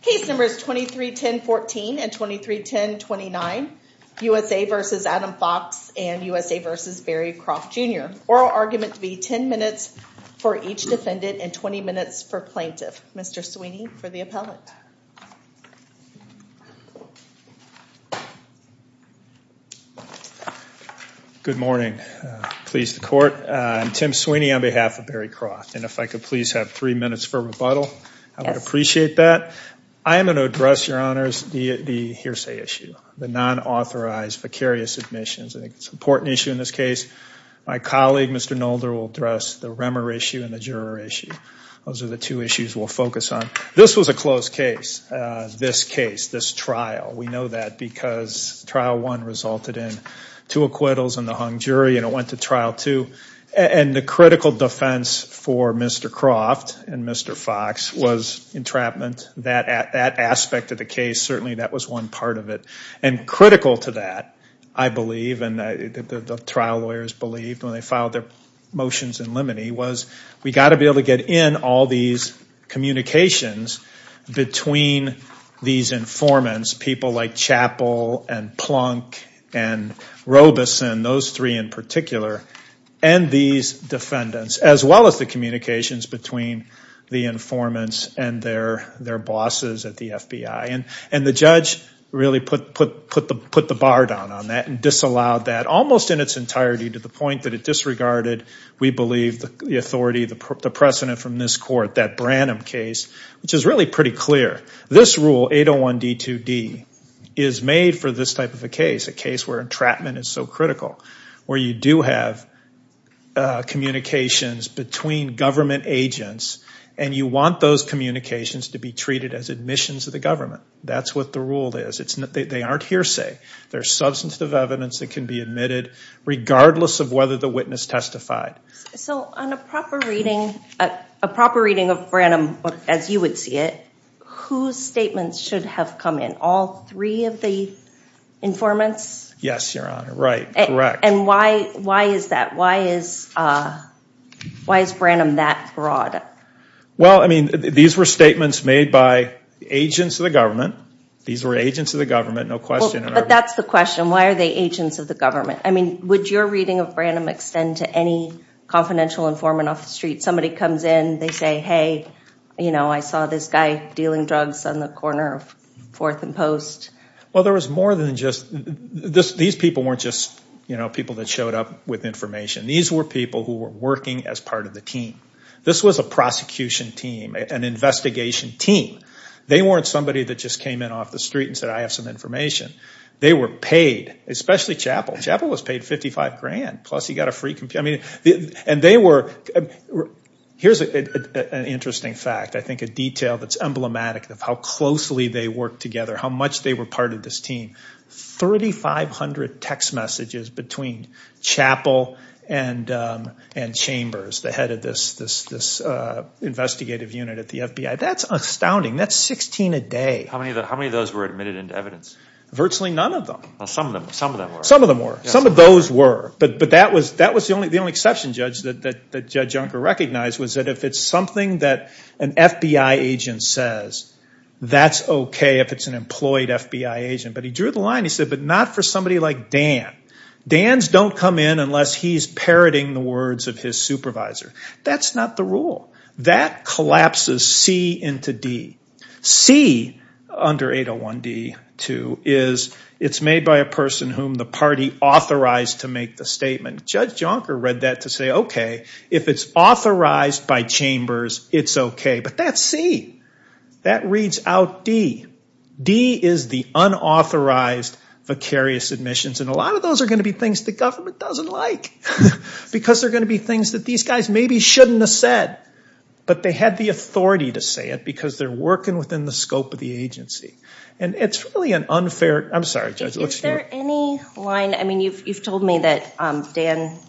Case numbers 23-10-14 and 23-10-29, USA v. Adam Fox and USA v. Barry Croft Jr. Oral argument to be 10 minutes for each defendant and 20 minutes for plaintiff. Mr. Sweeney for the appellate. Good morning. Please the court. I'm Tim Sweeney on behalf of Barry Croft and if I could please have three minutes for rebuttal. I would appreciate that. I am going to address, your honors, the hearsay issue, the non-authorized vicarious admissions. I think it's an important issue in this case. My colleague, Mr. Nolder, will address the remor issue and the juror issue. Those are the two issues we'll focus on. This was a closed case, this case, this trial. We know that because Trial 1 resulted in two acquittals and the hung jury and it went to And the critical defense for Mr. Croft and Mr. Fox was entrapment. That aspect of the case, certainly that was one part of it. And critical to that, I believe, and the trial lawyers believed when they filed their motions in limine was we've got to be able to get in all these communications between these informants, people like Chappell and Plunk and Robeson, those three in particular, and these defendants, as well as the communications between the informants and their bosses at the FBI. And the judge really put the bar down on that and disallowed that almost in its entirety to the point that it disregarded, we believe, the authority, the precedent from this court, that Branham case, which is really pretty clear. This rule, 801D2D, is made for this type of a case, a case where entrapment is so critical, where you do have communications between government agents and you want those communications to be treated as admissions to the government. That's what the rule is. They aren't hearsay. There's substantive evidence that can be admitted regardless of whether the witness testified. So on a proper reading, a proper reading of Branham as you would see it, whose statements should have come in? All three of the informants? Yes, Your Honor, right, correct. And why is that? Why is Branham that broad? Well, I mean, these were statements made by agents of the government. These were agents of the government, no question. But that's the question. Why are they agents of the government? I mean, would your reading of Branham extend to any confidential informant off the street? Somebody comes in, they say, hey, you know, I saw this guy dealing drugs on the corner of Fourth and Post. Well, there was more than just, these people weren't just, you know, people that showed up with information. These were people who were working as part of the team. This was a prosecution team, an investigation team. They weren't somebody that just came in off the street and said, I have some information. They were paid, especially Chappell. Chappell was paid $55,000, plus he got a free computer. I mean, and they were, here's an interesting fact. I think a detail that's emblematic of how closely they worked together, how much they were part of this team. 3,500 text messages between Chappell and Chambers, the head of this investigative unit at the FBI. That's astounding. That's 16 a day. How many of those were admitted into evidence? Virtually none of them. Well, some of them were. Some of those were. But that was the only exception, Judge, that Judge Junker recognized, was that if it's something that an FBI agent says, that's okay if it's an employed FBI agent. But he drew the line. He said, but not for somebody like Dan. Dan's don't come in unless he's parroting the words of his supervisor. That's not the rule. That collapses C into D. C under 801D2 is, it's made by a person whom the party authorized to make the statement. Judge Junker read that to say, okay, if it's authorized by Chambers, it's okay. But that's C. That reads out D. D is the unauthorized vicarious admissions. And a lot of those are going to be things the government doesn't like, because they're going to be things that these guys maybe shouldn't have said, but they had the authority to say it, because they're working within the scope of the agency. And it's really an unfair, I'm sorry, Judge, let's hear. Is there any line, I mean, you've told me that Dan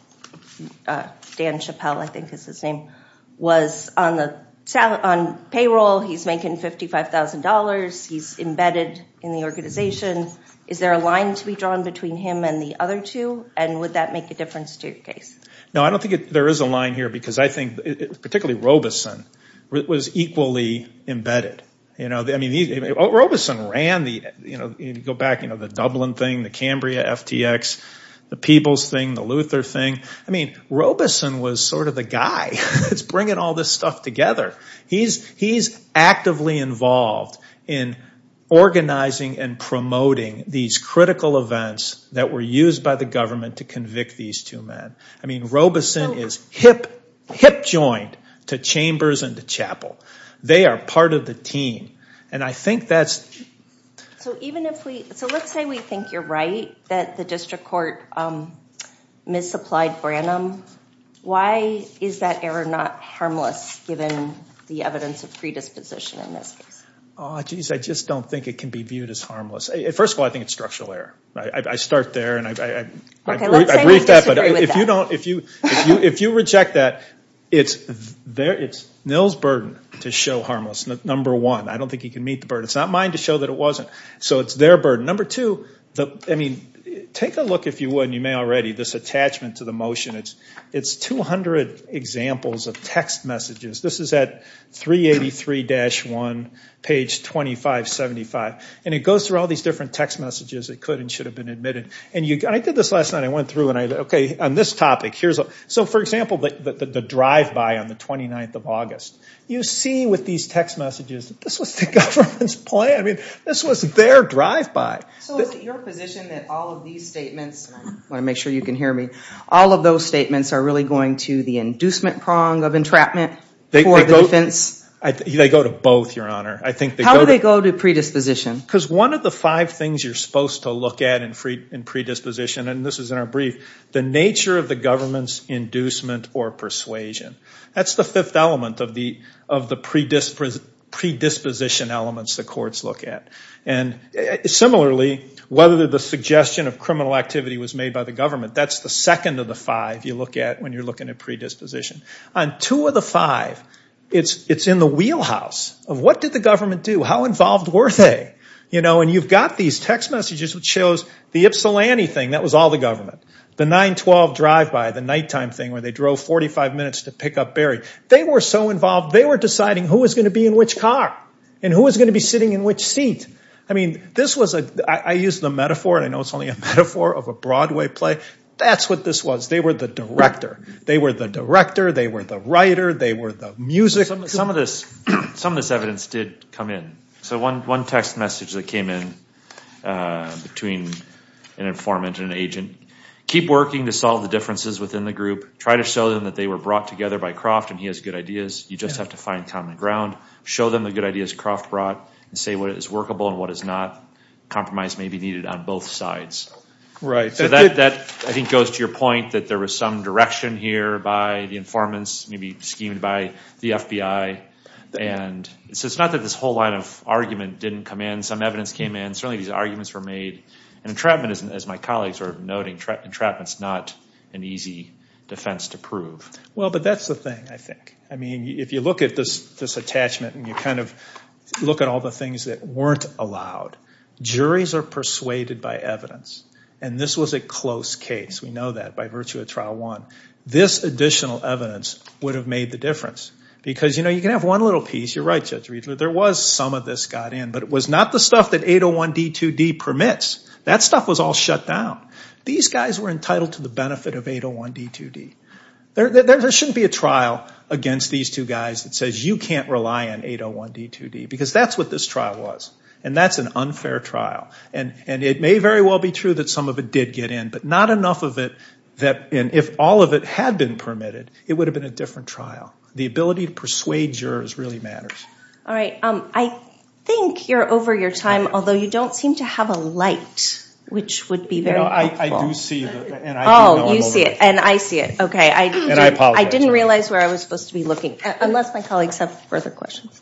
Chappell, I think is his name, was on payroll, he's making $55,000, he's embedded in the organization. Is there a line to be drawn between him and the other two? And would that make a difference to your case? No, I don't think there is a line here, because I think, particularly Robeson, was equally embedded. I mean, Robeson ran the, go back, the Dublin thing, the Cambria FTX, the People's thing, the Luther thing. I mean, Robeson was sort of the guy that's bringing all this stuff together. He's actively involved in organizing and promoting these critical events that were used by the government to convict these two men. I mean, Robeson is hip-joined to Chambers and to Chappell. They are part of the team. And I think that's- So even if we, so let's say we think you're right, that the district court misapplied Branham. Why is that error not harmless, given the evidence of predisposition in this case? Oh, geez, I just don't think it can be viewed as harmless. First of all, I think it's structural error. I start there, and I've- I've read that, but if you don't, if you reject that, it's Nils' burden to show harmless, number one. I don't think he can meet the burden. It's not mine to show that it wasn't. So it's their burden. Number two, I mean, take a look, if you would, and you may already, this attachment to the motion. It's 200 examples of text messages. This is at 383-1, page 2575. And it goes through all these different text messages. It could and should have been admitted. And I did this last night. I went through, and I, okay, on this topic, here's a- so, for example, the drive-by on the 29th of August. You see with these text messages, this was the government's plan. I mean, this was their drive-by. So is it your position that all of these statements, and I want to make sure you can hear me, all of those statements are really going to the inducement prong of entrapment? They go to both, Your Honor. I think they go to- How do they go to predisposition? Because one of the five things you're supposed to look at in predisposition, and this is in our brief, the nature of the government's inducement or persuasion. That's the fifth element of the predisposition elements the courts look at. And similarly, whether the suggestion of criminal activity was made by the government, that's the second of the five you look at when you're looking at predisposition. On two of the five, it's in the wheelhouse of what did the government do? How involved were they? And you've got these text messages which shows the Ypsilanti thing. That was all the government. The 9-12 drive-by, the nighttime thing where they drove 45 minutes to pick up Barry. They were so involved, they were deciding who was going to be in which car and who was going to be sitting in which seat. I mean, this was a- I use the metaphor, and I know it's only a metaphor of a Broadway play. That's what this was. They were the director. They were the director. They were the writer. They were the music. Some of this evidence did come in. So one text message that came in between an informant and an agent, keep working to solve the differences within the group. Try to show them that they were brought together by Croft and he has good ideas. You just have to find common ground. Show them the good ideas Croft brought and say what is workable and what is not, compromise may be needed on both sides. Right. So that, I think, goes to your point that there was some direction here by the informants, maybe schemed by the FBI. And so it's not that this whole line of argument didn't come in. Some evidence came in. Certainly these arguments were made. And entrapment, as my colleagues were noting, entrapment's not an easy defense to prove. Well, but that's the thing, I think. I mean, if you look at this attachment and you kind of look at all the things that weren't allowed, juries are persuaded by evidence. And this was a close case. We know that by virtue of trial one. This additional evidence would have made the difference. Because, you know, you can have one little piece. You're right, Judge Riedler. There was some of this got in. But it was not the stuff that 801D2D permits. That stuff was all shut down. These guys were entitled to the benefit of 801D2D. There shouldn't be a trial against these two guys that says you can't rely on 801D2D. Because that's what this trial was. And that's an unfair trial. And it may very well be true that some of it did get in. But not enough of it that if all of it had been permitted, it would have been a different trial. The ability to persuade jurors really matters. All right. I think you're over your time. Although, you don't seem to have a light, which would be very helpful. I do see the light. Oh, you see it. And I see it. OK, I didn't realize where I was supposed to be looking. Unless my colleagues have further questions.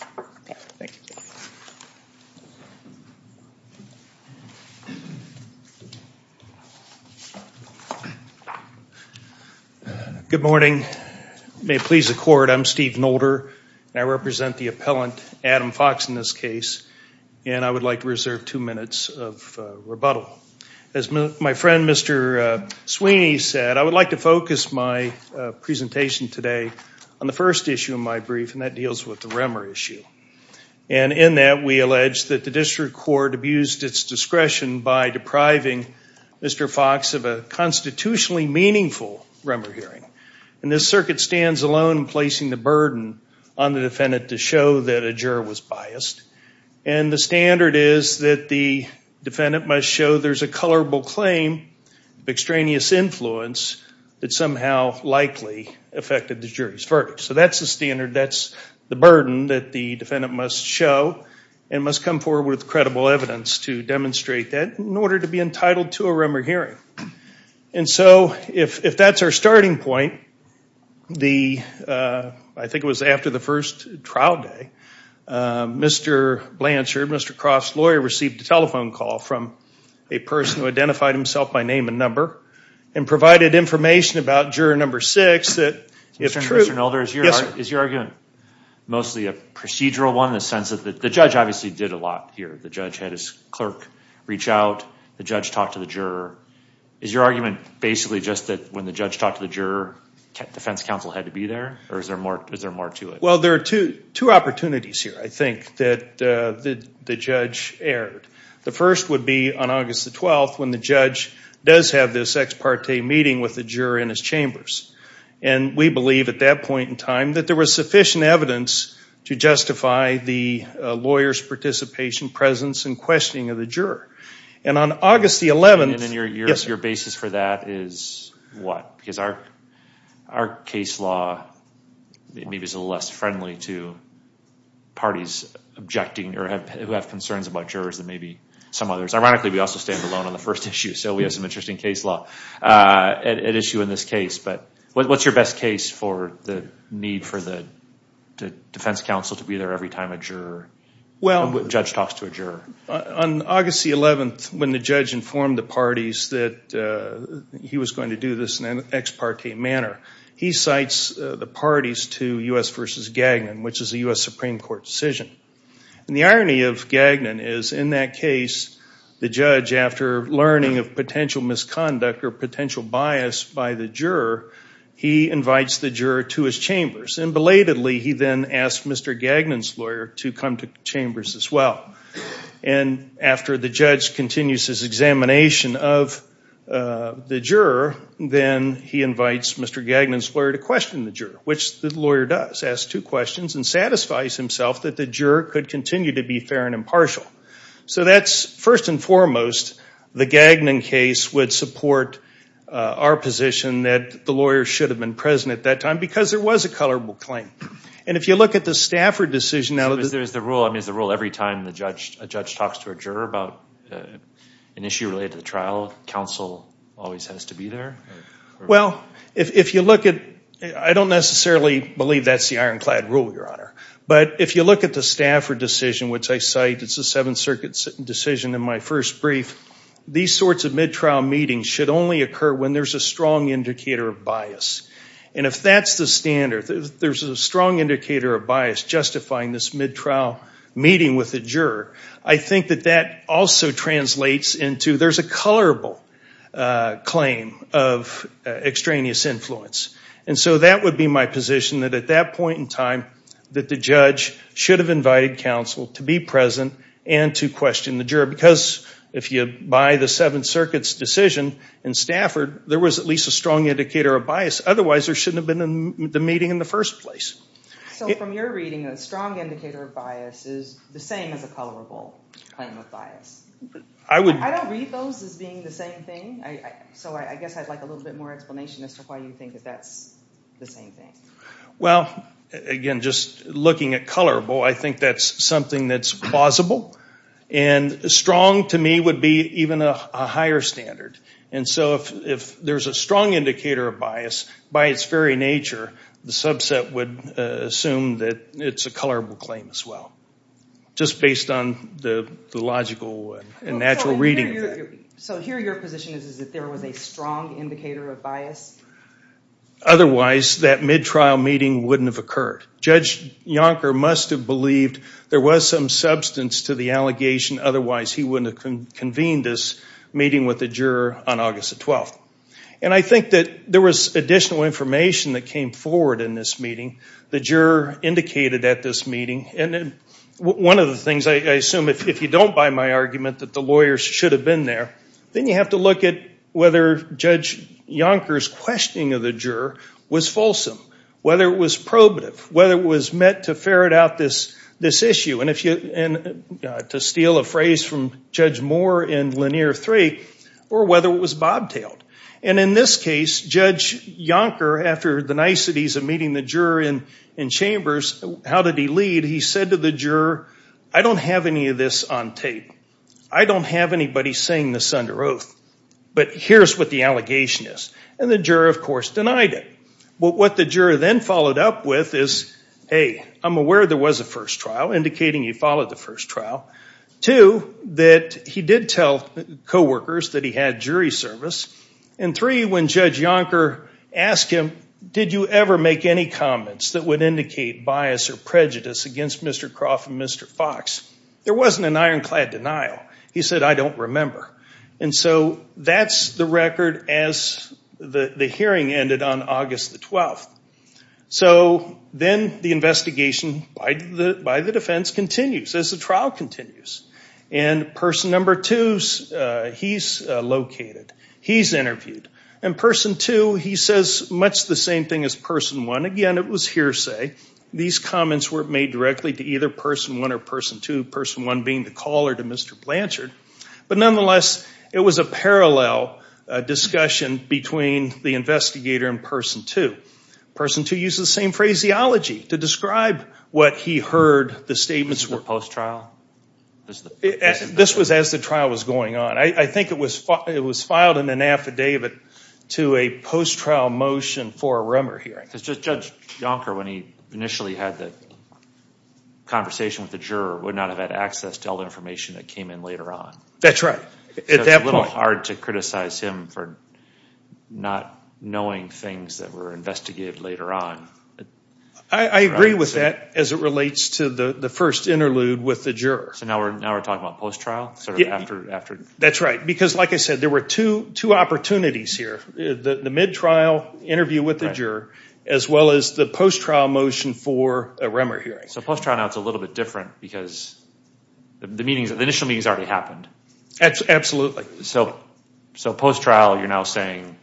Good morning. May it please the court, I'm Steve Nolder. I represent the appellant, Adam Fox, in this case. And I would like to reserve two minutes of rebuttal. As my friend, Mr. Sweeney, said, I would like to focus my presentation today on the first issue of my brief. And that deals with the Remmer issue. And in that, we allege that the district court abused its discretion by depriving Mr. Fox of a constitutionally meaningful Remmer hearing. And this circuit stands alone in placing the burden on the defendant to show that a juror was biased. And the standard is that the defendant must show there's a colorable claim of extraneous influence that somehow likely affected the jury's verdict. So that's the standard. That's the burden that the defendant must show and must come forward with credible evidence to demonstrate that in order to be entitled to a Remmer hearing. And so if that's our starting point, I think it was after the first trial day, Mr. Blanchard, Mr. Croft's lawyer, received a telephone call from a person who identified himself by name and number and provided information about juror number six that, if true. Mr. Nolder, is your argument mostly a procedural one in the sense that the judge obviously did a lot here? The judge had his clerk reach out. The judge talked to the juror. Is your argument basically just that when the judge talked to the juror, defense counsel had to be there? Or is there more to it? Well, there are two opportunities here, I think, that the judge aired. The first would be on August the 12th when the judge does have this ex parte meeting with the juror in his chambers. And we believe at that point in time that there was sufficient evidence to justify the lawyer's participation, presence, and questioning of the juror. And on August the 11th, yes. And your basis for that is what? Because our case law maybe is a little less friendly to parties objecting or who have concerns about jurors than maybe some others. Ironically, we also stand alone on the first issue. So we have some interesting case law at issue in this case. But what's your best case for the need for the defense counsel to be there every time a judge talks to a juror? On August the 11th, when the judge informed the parties that he was going to do this in an ex parte manner, he cites the parties to US versus Gagnon, which is a US Supreme Court decision. And the irony of Gagnon is in that case, the judge, after learning of potential misconduct or potential bias by the juror, he invites the juror to his chambers. And belatedly, he then asked Mr. Gagnon's lawyer to come to chambers as well. And after the judge continues his examination of the juror, then he invites Mr. Gagnon's lawyer to question the juror, which the lawyer does, asks two questions, and satisfies himself that the juror could continue to be fair and impartial. So that's, first and foremost, the Gagnon case would support our position that the lawyer should have been present at that time, because there was a colorable claim. And if you look at the Stafford decision, now that there's the rule, is the rule every time a judge talks to a juror about an issue related to the trial, counsel always has to be there? Well, if you look at it, I don't necessarily believe that's the ironclad rule, Your Honor. But if you look at the Stafford decision, which I cite, it's the Seventh Circuit's decision in my first brief, these sorts of mid-trial meetings should only occur when there's a strong indicator of bias. And if that's the standard, there's a strong indicator of bias justifying this mid-trial meeting with the juror, I think that that also translates into there's a colorable claim of extraneous influence. And so that would be my position, that at that point in time, that the judge should have invited counsel to be present and to question the juror. Because if you buy the Seventh Circuit's decision in Stafford, there was at least a strong indicator of bias. Otherwise, there shouldn't have been the meeting in the first place. So from your reading, a strong indicator of bias is the same as a colorable claim of bias. I would. I don't read those as being the same thing. So I guess I'd like a little bit more explanation as to why you think that that's the same thing. Well, again, just looking at colorable, I think that's something that's plausible. And strong, to me, would be even a higher standard. And so if there's a strong indicator of bias, by its very nature, the subset would assume that it's a colorable claim as well, just based on the logical and natural reading of it. So here your position is that there was a strong indicator of bias? Otherwise, that mid-trial meeting wouldn't have occurred. Judge Yonker must have believed there was some substance to the allegation. Otherwise, he wouldn't have convened this meeting with the juror on August the 12th. And I think that there was additional information that came forward in this meeting. The juror indicated at this meeting. And one of the things, I assume, if you don't buy my argument that the lawyers should have been there, then you have to look at whether Judge Yonker's questioning of the juror was fulsome, whether it was probative, whether it was meant to ferret out this issue, and to steal a phrase from Judge Moore in Lanier 3, or whether it was bobtailed. And in this case, Judge Yonker, after the niceties of meeting the juror in chambers, how did he lead? He said to the juror, I don't have any of this on tape. I don't have anybody saying this under oath. But here's what the allegation is. And the juror, of course, denied it. But what the juror then followed up with is, hey, I'm aware there was a first trial, indicating he followed the first trial. Two, that he did tell co-workers that he had jury service. And three, when Judge Yonker asked him, did you ever make any comments that would indicate bias or prejudice against Mr. Croft and Mr. Fox, there wasn't an ironclad denial. He said, I don't remember. And so that's the record as the hearing ended on August the 12th. So then the investigation by the defense continues as the trial continues. And person number two, he's located. He's interviewed. And person two, he says much the same thing as person one. Again, it was hearsay. These comments were made directly to either person one or person two, person one being the caller to Mr. Blanchard. But nonetheless, it was a parallel discussion between the investigator and person two. Person two used the same phraseology to describe what he heard. The statements were post-trial. This was as the trial was going on. I think it was filed in an affidavit to a post-trial motion for a rumor hearing. Because Judge Jonker, when he initially had the conversation with the juror, would not have had access to all the information that came in later on. That's right. It's a little hard to criticize him for not knowing things that were investigated later on. I agree with that as it relates to the first interlude with the juror. So now we're talking about post-trial? That's right. Because like I said, there were two opportunities here. The mid-trial interview with the juror as well as the post-trial motion for a rumor hearing. So post-trial now is a little bit different because the initial meeting has already happened. Absolutely. So post-trial, you're now saying,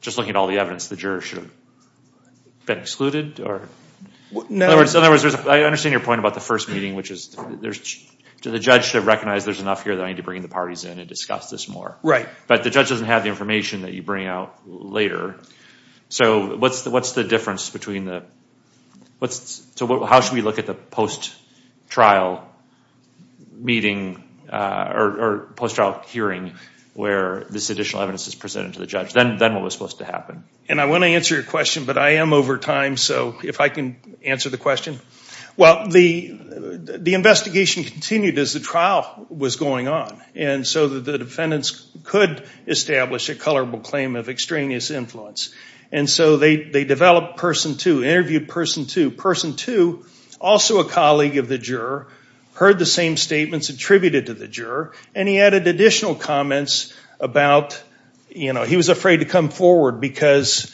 just looking at all the evidence, the juror should have been excluded? Or in other words, I understand your point about the first meeting, which is the judge should recognize there's enough here that I need to bring the parties in and discuss this more. Right. But the judge doesn't have the information that you bring out later. So what's the difference between the? So how should we look at the post-trial meeting or post-trial hearing where this additional evidence is presented to the judge? Then what was supposed to happen? And I want to answer your question, but I am over time. So if I can answer the question. Well, the investigation continued as the trial was going on. And so the defendants could establish a colorable claim of extraneous influence. And so they developed Person 2, interviewed Person 2. Person 2, also a colleague of the juror, heard the same statements attributed to the juror, and he added additional comments about he was afraid to come forward because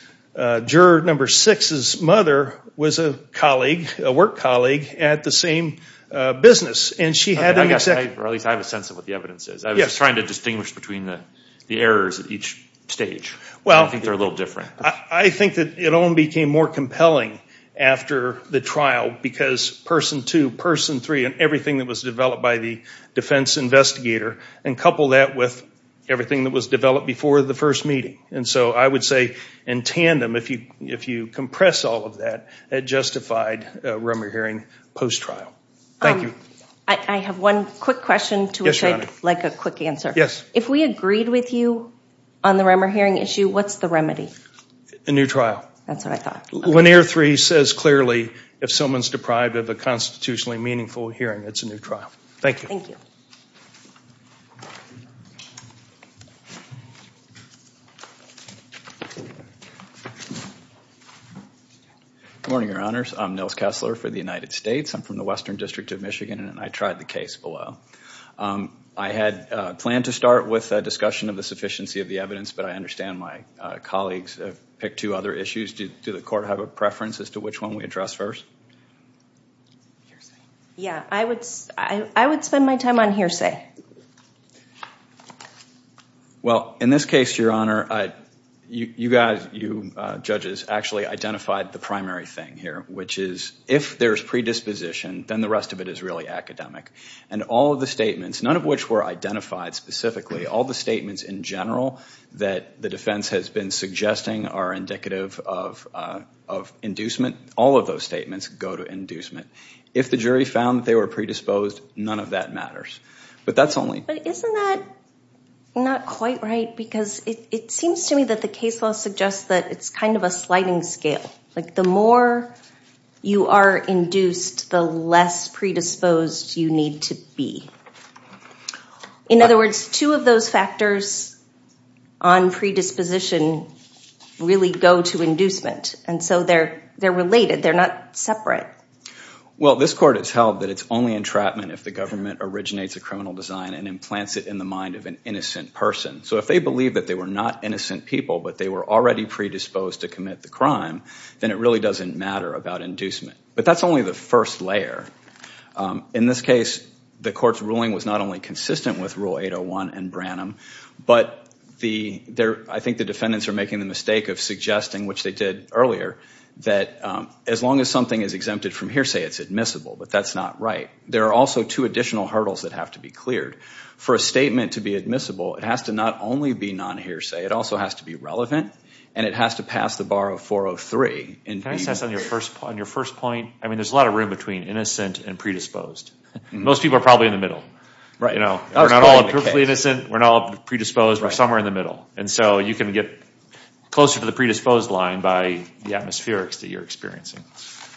juror number six's mother was a work colleague at the same business. And she had an exception. I was trying to distinguish between the errors at each stage. I think they're a little different. I think that it only became more compelling after the trial because Person 2, Person 3, and everything that was developed by the defense investigator, and couple that with everything that was developed before the first meeting. And so I would say, in tandem, if you compress all of that, it justified a rumor hearing post-trial. Thank you. I have one quick question to which I'd like a quick answer. Yes. If we agreed with you on the rumor hearing issue, what's the remedy? A new trial. That's what I thought. Linear 3 says clearly, if someone's deprived of a constitutionally meaningful hearing, it's a new trial. Thank you. Thank you. Good morning, Your Honors. I'm Nils Kessler for the United States. I'm from the Western District of Michigan, and I tried the case below. I had planned to start with a discussion of the sufficiency of the evidence, but I understand my colleagues have picked two other issues. Do the court have a preference as to which one we address first? Yeah, I would spend my time on hearsay. Well, in this case, Your Honor, you guys, you judges, actually identified the primary thing here, which is if there's predisposition, then the rest of it is really academic. And all of the statements, none of which were identified specifically, all the statements in general that the defense has been suggesting are indicative of inducement, all of those statements go to inducement. If the jury found that they were predisposed, none of that matters. But that's only- But isn't that not quite right? Because it seems to me that the case law suggests that it's kind of a sliding scale. Like the more you are induced, the less predisposed you need to be. In other words, two of those factors on predisposition really go to inducement. And so they're related, they're not separate. Well, this court has held that it's only entrapment if the government originates a criminal design and implants it in the mind of an innocent person. So if they believe that they were not innocent people, but they were already predisposed to commit the crime, then it really doesn't matter about inducement. But that's only the first layer. In this case, the court's ruling was not only consistent with Rule 801 and Branham, but I think the defendants are making the mistake of suggesting, which they did earlier, that as long as something is exempted from hearsay, it's admissible. But that's not right. There are also two additional hurdles that have to be cleared. For a statement to be admissible, it has to not only be non-hearsay, it also has to be relevant, and it has to pass the bar of 403. Can I just ask on your first point, I mean, there's a lot of room between innocent and predisposed. Most people are probably in the middle. We're not all perfectly innocent, we're not all predisposed, we're somewhere in the middle. And so you can get closer to the predisposed line by the atmospherics that you're experiencing.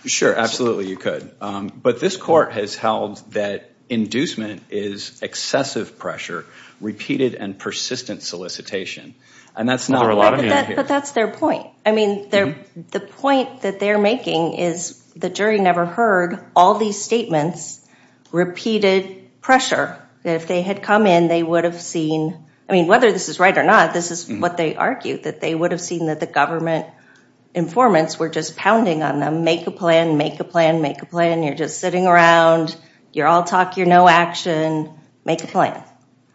Sure, absolutely, you could. But this court has held that inducement is excessive pressure, repeated and persistent solicitation. And that's not where a lot of it is. But that's their point. I mean, the point that they're making is the jury never heard all these statements, repeated pressure, that if they had come in, they would have seen, I mean, whether this is right or not, this is what they argued, that they would have seen that the government informants were just pounding on them, make a plan, make a plan, make a plan, you're just sitting around, you're all talk, you're no action, make a plan.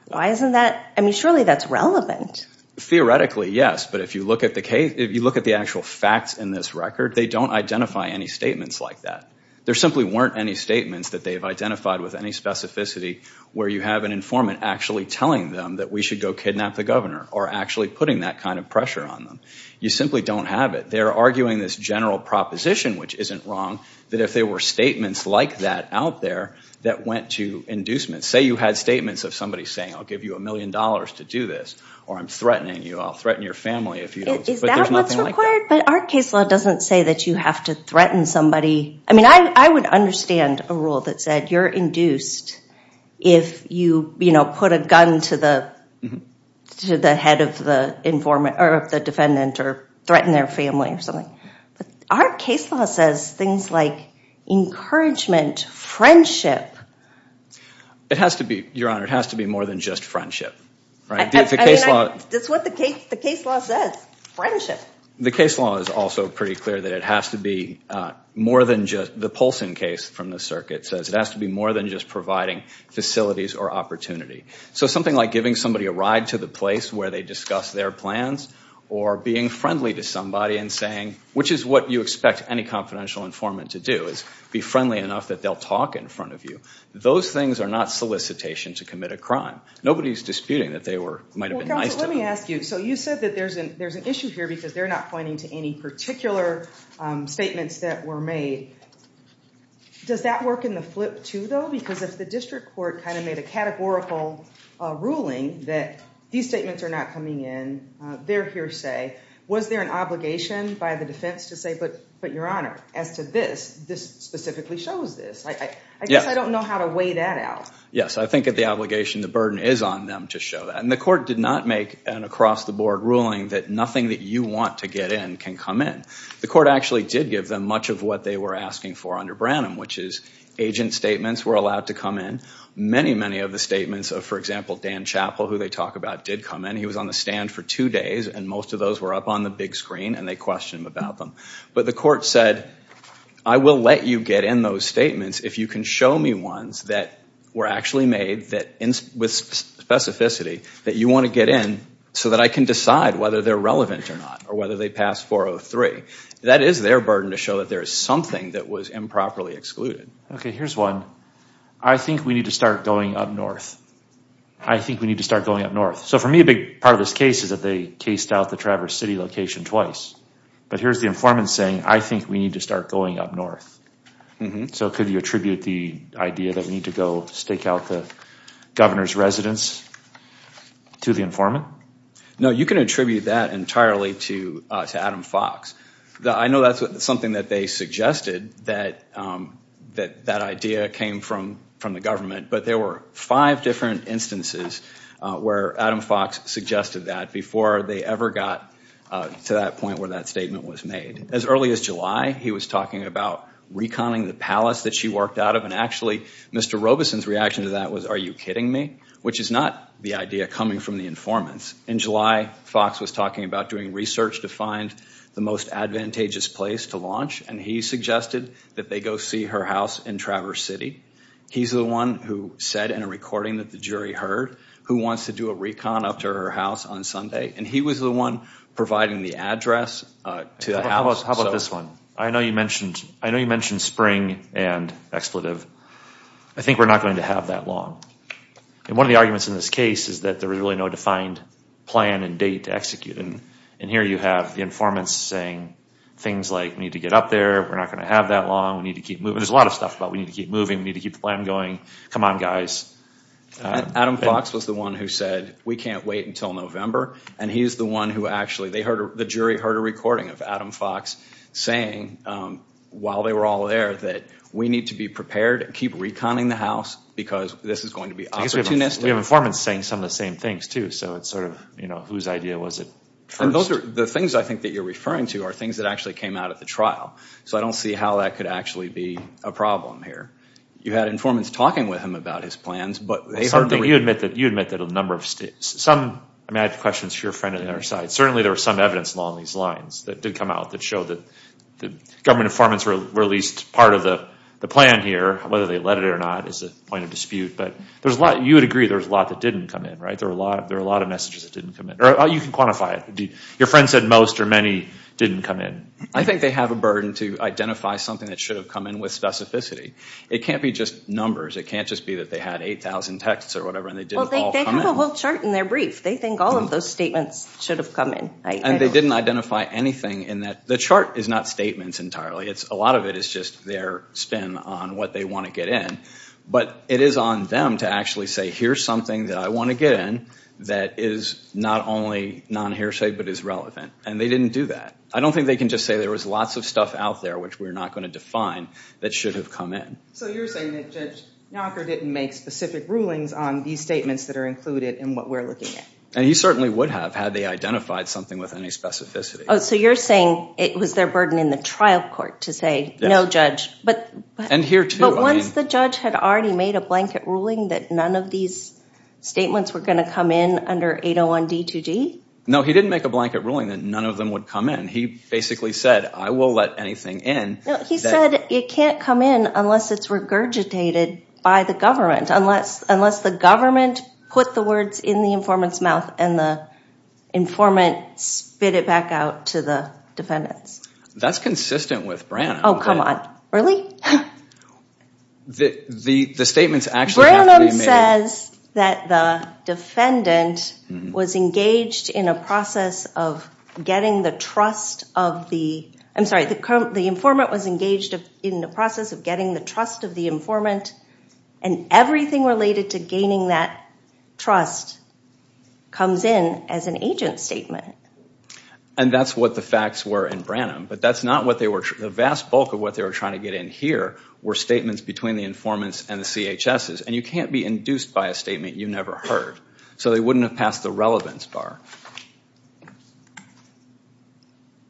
Why isn't that, I mean, surely that's relevant. Theoretically, yes, but if you look at the case, if you look at the actual facts in this record, they don't identify any statements like that. There simply weren't any statements that they've identified with any specificity where you have an informant actually telling them that we should go kidnap the governor or actually putting that kind of pressure on them. You simply don't have it. They're arguing this general proposition, which isn't wrong, that if there were statements like that out there that went to inducement. Say you had statements of somebody saying, I'll give you a million dollars to do this, or I'm threatening you, I'll threaten your family if you don't, but there's nothing like that. Is that what's required? But our case law doesn't say that you have to threaten somebody. I mean, I would understand a rule that said you're induced if you put a gun to the head of the defendant or threaten their family or something. But our case law says things like encouragement, friendship. It has to be, Your Honor, it has to be more than just friendship. Right? That's what the case law says, friendship. The case law is also pretty clear that it has to be more than just, the Polson case from the circuit says it has to be more than just providing facilities or opportunity. So something like giving somebody a ride to the place where they discuss their plans or being friendly to somebody and saying, which is what you expect any confidential informant to do is be friendly enough that they'll talk in front of you. Those things are not solicitation to commit a crime. Nobody's disputing that they were, might've been nice to them. Well, counsel, let me ask you. So you said that there's an issue here because they're not pointing to any particular statements that were made. Does that work in the flip too though? Because if the district court kind of made a categorical ruling that these statements are not coming in, they're hearsay, was there an obligation by the defense to say, but Your Honor, as to this, this specifically shows this. I guess I don't know how to weigh that out. Yes, I think that the obligation, the burden is on them to show that. And the court did not make an across the board ruling that nothing that you want to get in can come in. The court actually did give them much of what they were asking for under Branham, which is agent statements were allowed to come in. Many, many of the statements of, for example, Dan Chappell, who they talk about, did come in. He was on the stand for two days and most of those were up on the big screen and they questioned him about them. But the court said, I will let you get in those statements if you can show me ones that were actually made with specificity that you want to get in so that I can decide whether they're relevant or not or whether they pass 403. That is their burden to show that there is something that was improperly excluded. Okay, here's one. I think we need to start going up north. I think we need to start going up north. So for me, a big part of this case is that they cased out the Traverse City location twice. But here's the informant saying, I think we need to start going up north. So could you attribute the idea that we need to go stake out the governor's residence to the informant? No, you can attribute that entirely to Adam Fox. I know that's something that they suggested, that that idea came from the government, but there were five different instances where Adam Fox suggested that before they ever got to that point where that statement was made. As early as July, he was talking about reconning the palace that she worked out of and actually, Mr. Robeson's reaction to that was, are you kidding me? Which is not the idea coming from the informants. In July, Fox was talking about doing research to find the most advantageous place to launch and he suggested that they go see her house in Traverse City. He's the one who said in a recording that the jury heard who wants to do a recon up to her house on Sunday and he was the one providing the address to the house. How about this one? I know you mentioned spring and expletive. I think we're not going to have that long. And one of the arguments in this case is that there was really no defined plan and date to execute and here you have the informants saying things like, we need to get up there, we're not going to have that long, we need to keep moving, there's a lot of stuff about we need to keep moving, we need to keep the plan going, come on guys. Adam Fox was the one who said we can't wait until November and he's the one who actually, the jury heard a recording of Adam Fox saying while they were all there that we need to be prepared and keep reconning the house because this is going to be opportunistic. We have informants saying some of the same things too so it's sort of whose idea was it first. The things I think that you're referring to are things that actually came out at the trial so I don't see how that could actually be a problem here. You had informants talking with him about his plans but they heard the- You admit that a number of states, some, I have questions for your friend on the other side, certainly there was some evidence along these lines that did come out that showed that the government informants were at least part of the plan here, whether they let it or not is a point of dispute but you would agree there was a lot that didn't come in, right, there were a lot of messages that didn't come in. You can quantify it. Your friend said most or many didn't come in. I think they have a burden to identify something that should have come in with specificity. It can't be just numbers, it can't just be that they had 8,000 texts or whatever and they didn't all come in. They have a whole chart in their brief, they think all of those statements should have come in. And they didn't identify anything in that, the chart is not statements entirely, a lot of it is just their spin on what they want to get in but it is on them to actually say here's something that I want to get in that is not only non-hearsay but is relevant and they didn't do that. I don't think they can just say there was lots of stuff out there which we're not going to define that should have come in. So you're saying that Judge Nowaker didn't make specific rulings on these statements that are included in what we're looking at. And he certainly would have had they identified something with any specificity. Oh, so you're saying it was their burden in the trial court to say no judge. But once the judge had already made a blanket ruling that none of these statements were going to come in under 801 D2G? No, he didn't make a blanket ruling that none of them would come in. He basically said I will let anything in. No, he said it can't come in unless it's regurgitated by the government. Unless the government put the words in the informant's mouth and the informant spit it back out to the defendants. That's consistent with Branham. Oh, come on. Really? The statements actually have to be made. Branham says that the defendant was engaged in a process of getting the trust of the, I'm sorry, the informant was engaged in the process of getting the trust of the informant. And everything related to gaining that trust comes in as an agent statement. And that's what the facts were in Branham. But that's not what they were, the vast bulk of what they were trying to get in here were statements between the informants and the CHSs. And you can't be induced by a statement you never heard. So they wouldn't have passed the relevance bar.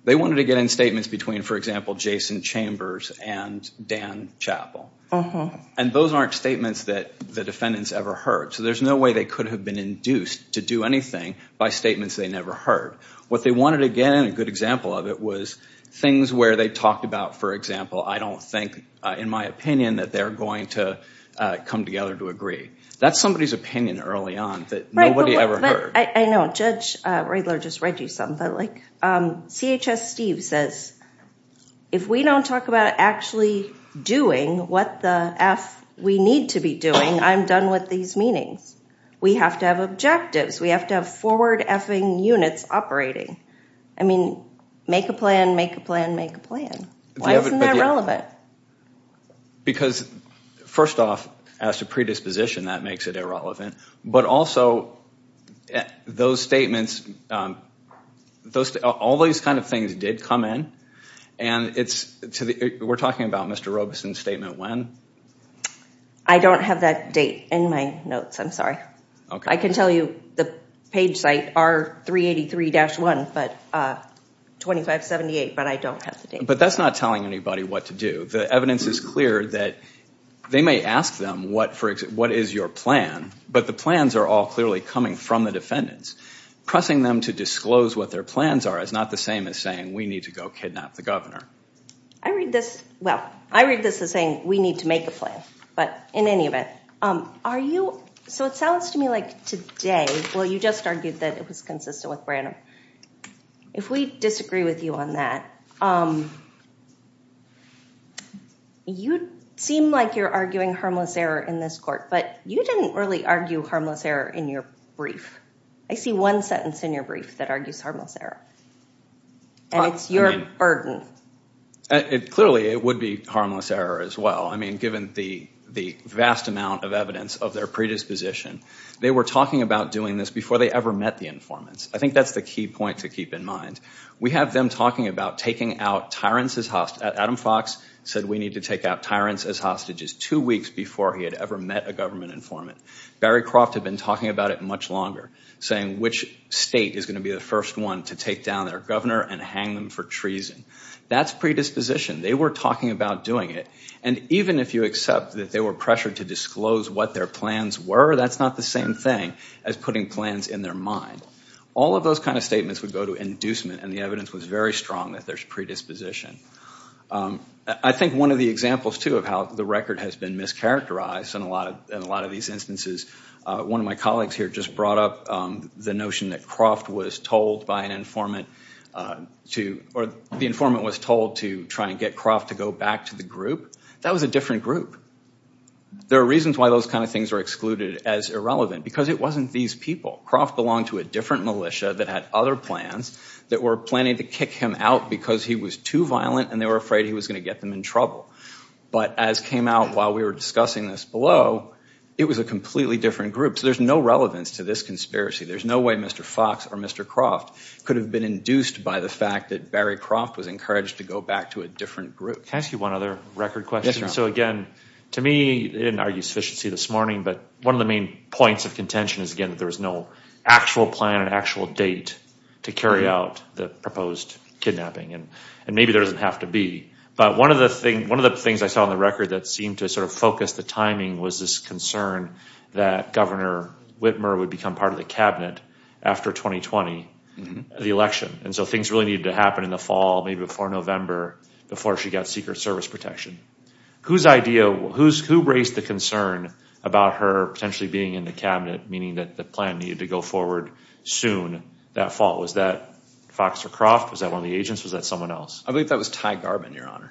They wanted to get in statements between, for example, Jason Chambers and Dan Chappell. And those aren't statements that the defendants ever heard. So there's no way they could have been induced to do anything by statements they never heard. What they wanted to get in, a good example of it, was things where they talked about, for example, I don't think, in my opinion, that they're going to come together to agree. That's somebody's opinion early on that nobody ever heard. I know, Judge Riedler just read you some, but like CHS Steve says, if we don't talk about actually doing what the F we need to be doing, I'm done with these meetings. We have to have objectives. We have to have forward F-ing units operating. I mean, make a plan, make a plan, make a plan. Why isn't that relevant? Because, first off, as to predisposition, that makes it irrelevant. But also, those statements, all these kind of things did come in, and we're talking about Mr. Robeson's statement when? I don't have that date in my notes, I'm sorry. I can tell you the page site, R383-1, but 2578, but I don't have the date. But that's not telling anybody what to do. The evidence is clear that they may ask them, what is your plan? But the plans are all clearly coming from the defendants. Pressing them to disclose what their plans are is not the same as saying, we need to go kidnap the governor. I read this, well, I read this as saying, we need to make a plan. But in any event, are you, so it sounds to me like today, well, you just argued that it was consistent with Branham. If we disagree with you on that, you seem like you're arguing harmless error in this court, but you didn't really argue harmless error in your brief. I see one sentence in your brief that argues harmless error. And it's your burden. Clearly, it would be harmless error as well. I mean, given the vast amount of evidence of their predisposition, they were talking about doing this before they ever met the informants. I think that's the key point to keep in mind. We have them talking about taking out tyrants as, Adam Fox said we need to take out tyrants as hostages two weeks before he had ever met a government informant. Barry Croft had been talking about it much longer, saying which state is gonna be the first one to take down their governor and hang them for treason. That's predisposition. They were talking about doing it. And even if you accept that they were pressured to disclose what their plans were, that's not the same thing as putting plans in their mind. All of those kind of statements would go to inducement, and the evidence was very strong that there's predisposition. I think one of the examples too of how the record has been mischaracterized in a lot of these instances, one of my colleagues here just brought up the notion that Croft was told by an informant to, or the informant was told to try and get Croft to go back to the group. That was a different group. There are reasons why those kind of things are excluded as irrelevant, because it wasn't these people. Croft belonged to a different militia that had other plans that were planning to kick him out because he was too violent, and they were afraid he was gonna get them in trouble. But as came out while we were discussing this below, it was a completely different group. So there's no relevance to this conspiracy. There's no way Mr. Fox or Mr. Croft could have been induced by the fact that Barry Croft was encouraged to go back to a different group. Can I ask you one other record question? So again, to me, they didn't argue sufficiency this morning, but one of the main points of contention is again that there was no actual plan, an actual date to carry out the proposed kidnapping, and maybe there doesn't have to be. But one of the things I saw on the record that seemed to sort of focus the timing was this concern that Governor Whitmer would become part of the cabinet after 2020, the election. And so things really needed to happen in the fall, maybe before November, before she got Secret Service protection. Whose idea, who raised the concern about her potentially being in the cabinet, meaning that the plan needed to go forward soon that fall? Was that Fox or Croft? Was that one of the agents? Was that someone else? I believe that was Ty Garbin, Your Honor.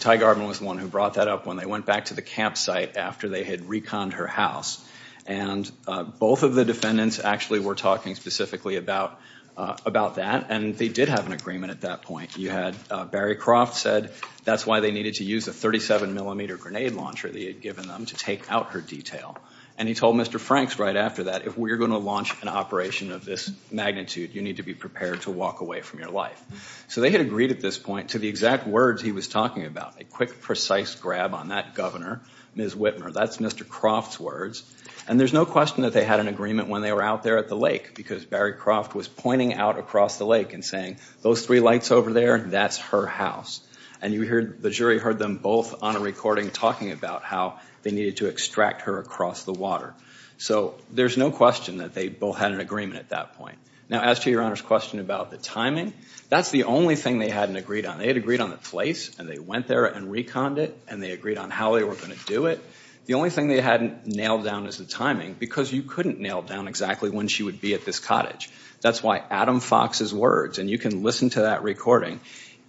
Ty Garbin was the one who brought that up when they went back to the campsite after they had reconned her house. And both of the defendants actually were talking specifically about that, and they did have an agreement at that point. You had Barry Croft said that's why they needed to use a 37 millimeter grenade launcher that he had given them to take out her detail. And he told Mr. Franks right after that, if we're gonna launch an operation of this magnitude, you need to be prepared to walk away from your life. So they had agreed at this point to the exact words he was talking about, a quick, precise grab on that governor, Ms. Whitmer. That's Mr. Croft's words. And there's no question that they had an agreement when they were out there at the lake, because Barry Croft was pointing out across the lake and saying those three lights over there, that's her house. And you heard, the jury heard them both on a recording talking about how they needed to extract her across the water. So there's no question that they both had an agreement at that point. Now as to Your Honor's question about the timing, that's the only thing they hadn't agreed on. They had agreed on the place, and they went there and reconned it, and they agreed on how they were gonna do it. The only thing they hadn't nailed down is the timing, because you couldn't nail down exactly when she would be at this cottage. That's why Adam Fox's words, and you can listen to that recording,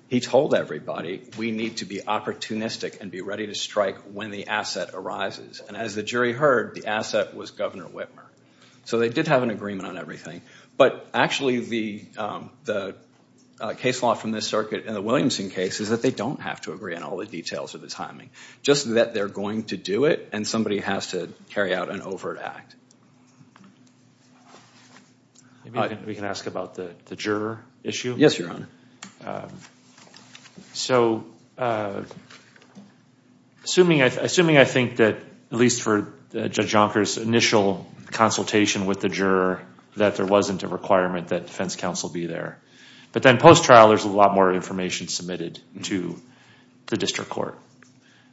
he told everybody, we need to be opportunistic and be ready to strike when the asset arises. And as the jury heard, the asset was Governor Whitmer. So they did have an agreement on everything. But actually, the case law from this circuit and the Williamson case is that they don't have to agree on all the details or the timing. Just that they're going to do it, and somebody has to carry out an overt act. We can ask about the juror issue. Yes, Your Honor. So, assuming I think that, at least for Judge Jonker's initial consultation with the juror, that there wasn't a requirement that defense counsel be there. But then post-trial, there's a lot more information submitted to the district court.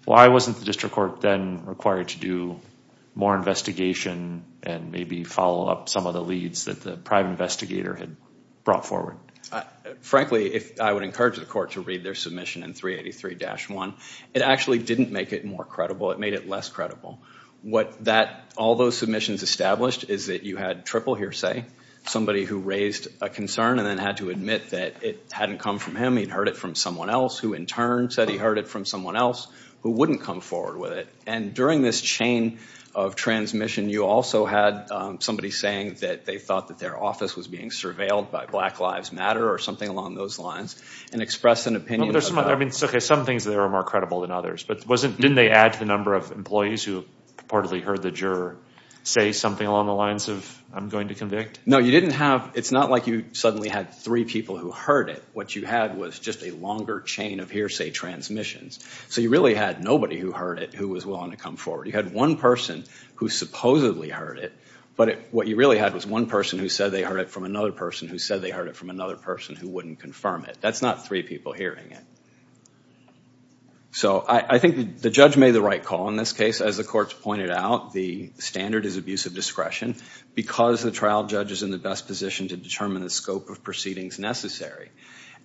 Why wasn't the district court then required to do more investigation and maybe follow up some of the leads that the prime investigator had brought forward? Frankly, I would encourage the court to read their submission in 383-1. It actually didn't make it more credible. It made it less credible. What all those submissions established is that you had triple hearsay, somebody who raised a concern and then had to admit that it hadn't come from him, he'd heard it from someone else, who in turn said he heard it from someone else who wouldn't come forward with it. And during this chain of transmission, you also had somebody saying that they thought that their office was being surveilled by Black Lives Matter or something along those lines, and express an opinion. I mean, okay, some things there are more credible than others, but didn't they add to the number of employees who purportedly heard the juror say something along the lines of, I'm going to convict? No, you didn't have, it's not like you suddenly had three people who heard it. What you had was just a longer chain of hearsay transmissions. So you really had nobody who heard it who was willing to come forward. You had one person who supposedly heard it, but what you really had was one person who said they heard it from another person who said they heard it from another person who wouldn't confirm it. That's not three people hearing it. So I think the judge made the right call in this case. As the courts pointed out, the standard is abuse of discretion because the trial judge is in the best position to determine the scope of proceedings necessary.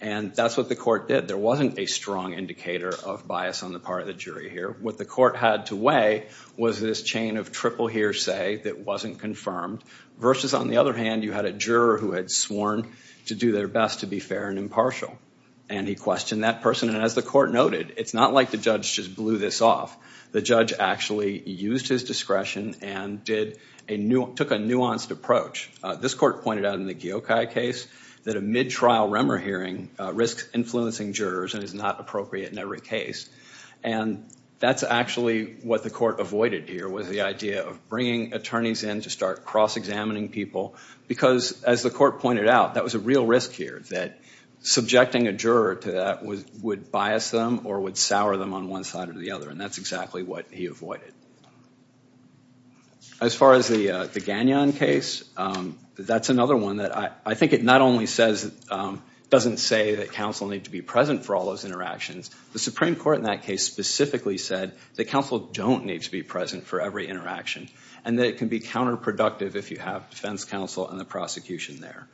And that's what the court did. There wasn't a strong indicator of bias on the part of the jury here. What the court had to weigh was this chain of triple hearsay that wasn't confirmed, versus on the other hand, you had a juror who had sworn to do their best to be fair and impartial. And he questioned that person, and as the court noted, it's not like the judge just blew this off. The judge actually used his discretion and took a nuanced approach. This court pointed out in the Geokai case that a mid-trial Remmer hearing risks influencing jurors and is not appropriate in every case. And that's actually what the court avoided here was the idea of bringing attorneys in to start cross-examining people because as the court pointed out, that was a real risk here that subjecting a juror to that would bias them or would sour them on one side or the other, and that's exactly what he avoided. As far as the Gagnon case, that's another one that I think it not only doesn't say that counsel need to be present for all those interactions, the Supreme Court in that case specifically said that counsel don't need to be present for every interaction and that it can be counterproductive if you have defense counsel and the prosecution there.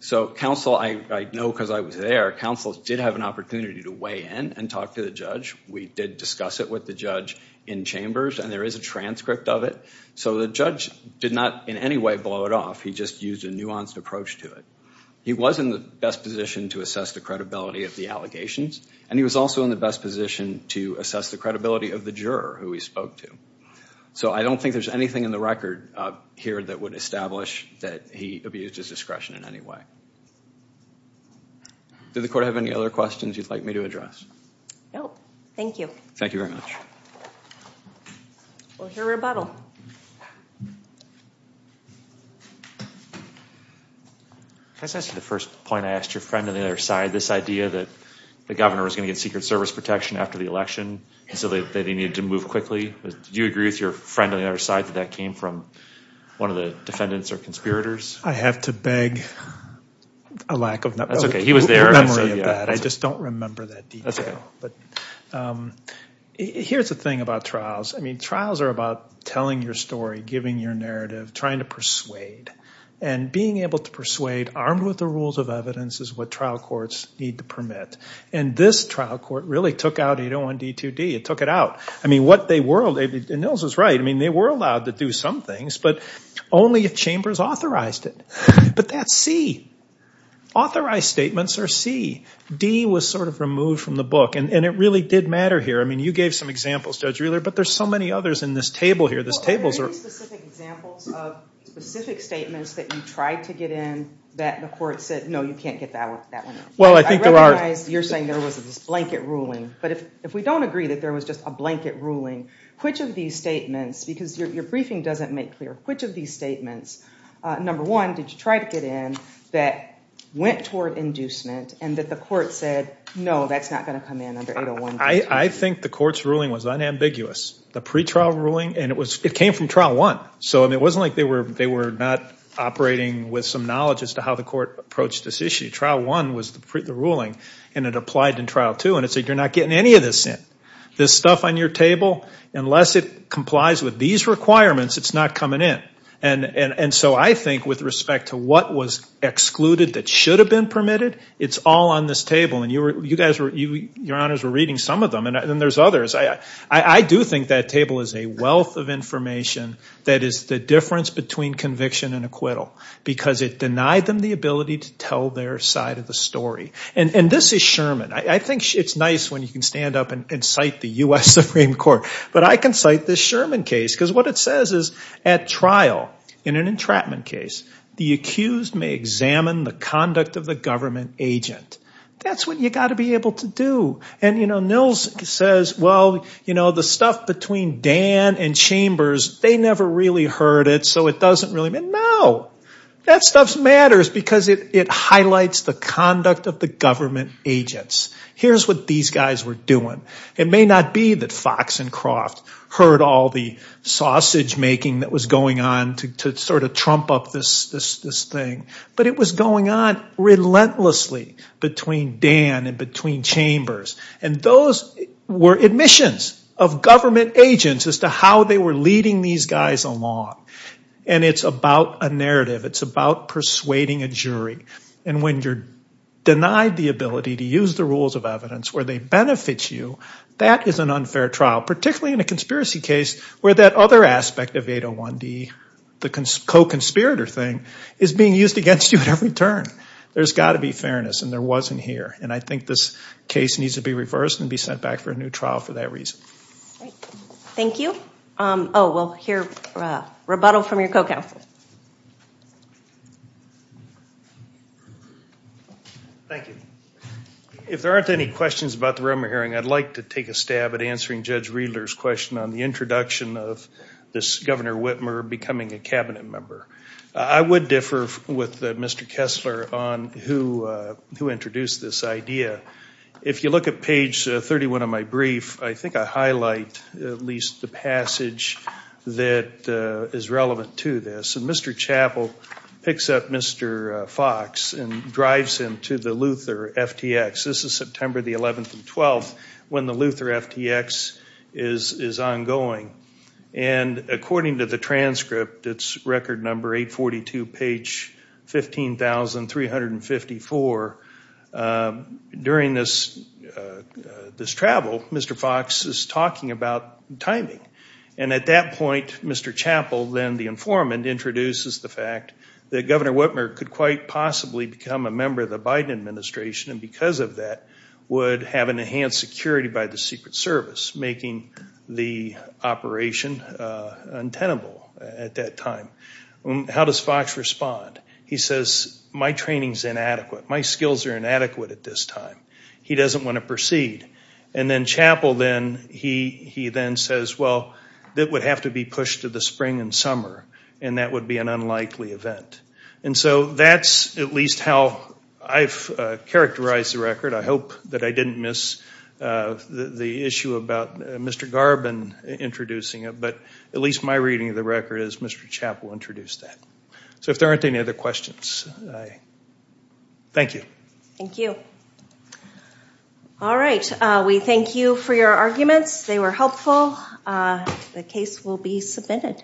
So counsel, I know because I was there, counsel did have an opportunity to weigh in and talk to the judge. We did discuss it with the judge in chambers and there is a transcript of it. So the judge did not in any way blow it off, he just used a nuanced approach to it. He was in the best position to assess the credibility of the allegations and he was also in the best position to assess the credibility of the juror who he spoke to. So I don't think there's anything in the record here that would establish that he abused his discretion in any way. Did the court have any other questions you'd like me to address? No, thank you. Thank you very much. We'll hear rebuttal. Can I just ask you the first point, I asked your friend on the other side, this idea that the governor was gonna get Secret Service protection after the election and so that he needed to move quickly. Do you agree with your friend on the other side that that came from one of the defendants or conspirators? I have to beg a lack of memory of that. I just don't remember that detail. Here's the thing about trials. I mean, trials are about telling your story, giving your narrative, trying to persuade. And being able to persuade, armed with the rules of evidence is what trial courts need to permit. And this trial court really took out, you don't want D2D, it took it out. I mean, what they were, and Nils was right, I mean, they were allowed to do some things, but only if chambers authorized it. But that's C. Authorized statements are C. D was sort of removed from the book, and it really did matter here. I mean, you gave some examples, Judge Rehler, but there's so many others in this table here. This table's are- Are there any specific examples of specific statements that you tried to get in that the court said, no, you can't get that one out? Well, I think there are- I recognize you're saying there was this blanket ruling, but if we don't agree that there was just a blanket ruling, which of these statements, because your briefing doesn't make clear, which of these statements, number one, did you try to get in that went toward inducement and that the court said, no, that's not gonna come in under 801- I think the court's ruling was unambiguous. The pretrial ruling, and it came from trial one, so it wasn't like they were not operating with some knowledge as to how the court approached this issue. Trial one was the ruling, and it applied in trial two, and it said, you're not getting any of this in. This stuff on your table, unless it complies with these requirements, it's not coming in. And so I think with respect to what was excluded that should have been permitted, it's all on this table, and your honors were reading some of them, and then there's others. I do think that table is a wealth of information that is the difference between conviction and acquittal, because it denied them the ability to tell their side of the story. And this is Sherman. I think it's nice when you can stand up and cite the US Supreme Court, but I can cite this Sherman case, because what it says is, at trial in an entrapment case, the accused may examine the conduct of the government agent. That's what you gotta be able to do. And Nils says, well, the stuff between Dan and Chambers, they never really heard it, so it doesn't really matter. No, that stuff matters, because it highlights the conduct of the government agents. Here's what these guys were doing. It may not be that Fox and Croft heard all the sausage making that was going on to sort of trump up this thing, but it was going on relentlessly between Dan and between Chambers. And those were admissions of government agents as to how they were leading these guys along. And it's about a narrative. It's about persuading a jury. And when you're denied the ability to use the rules of evidence where they benefit you, that is an unfair trial, particularly in a conspiracy case where that other aspect of 801D, the co-conspirator thing, is being used against you at every turn. There's gotta be fairness, and there wasn't here. And I think this case needs to be reversed and be sent back for a new trial for that reason. Thank you. Oh, we'll hear rebuttal from your co-counsel. Thank you. If there aren't any questions about the Rimmer hearing, I'd like to take a stab at answering Judge Riedler's question on the introduction of this Governor Whitmer becoming a cabinet member. I would differ with Mr. Kessler on who introduced this idea. If you look at page 31 of my brief, I think I highlight at least the passage that is relevant to this. And Mr. Chappell picks up Mr. Fox and drives him to the Luther FTX. This is September the 11th and 12th when the Luther FTX is ongoing. And according to the transcript, it's record number 842, page 15,354. During this travel, Mr. Fox is talking about timing. And at that point, Mr. Chappell, then the informant, introduces the fact that Governor Whitmer could quite possibly become a member of the Biden administration, and because of that, would have an enhanced security by the Secret Service, making the operation untenable at that time. How does Fox respond? He says, my training's inadequate. My skills are inadequate at this time. He doesn't want to proceed. And then Chappell then, he then says, well, it would have to be pushed to the spring and summer, and that would be an unlikely event. And so that's at least how I've characterized the record. I hope that I didn't miss the issue about Mr. Garbin introducing it, but at least my reading of the record is Mr. Chappell introduced that. So if there aren't any other questions, thank you. Thank you. All right, we thank you for your arguments. They were helpful. The case will be submitted.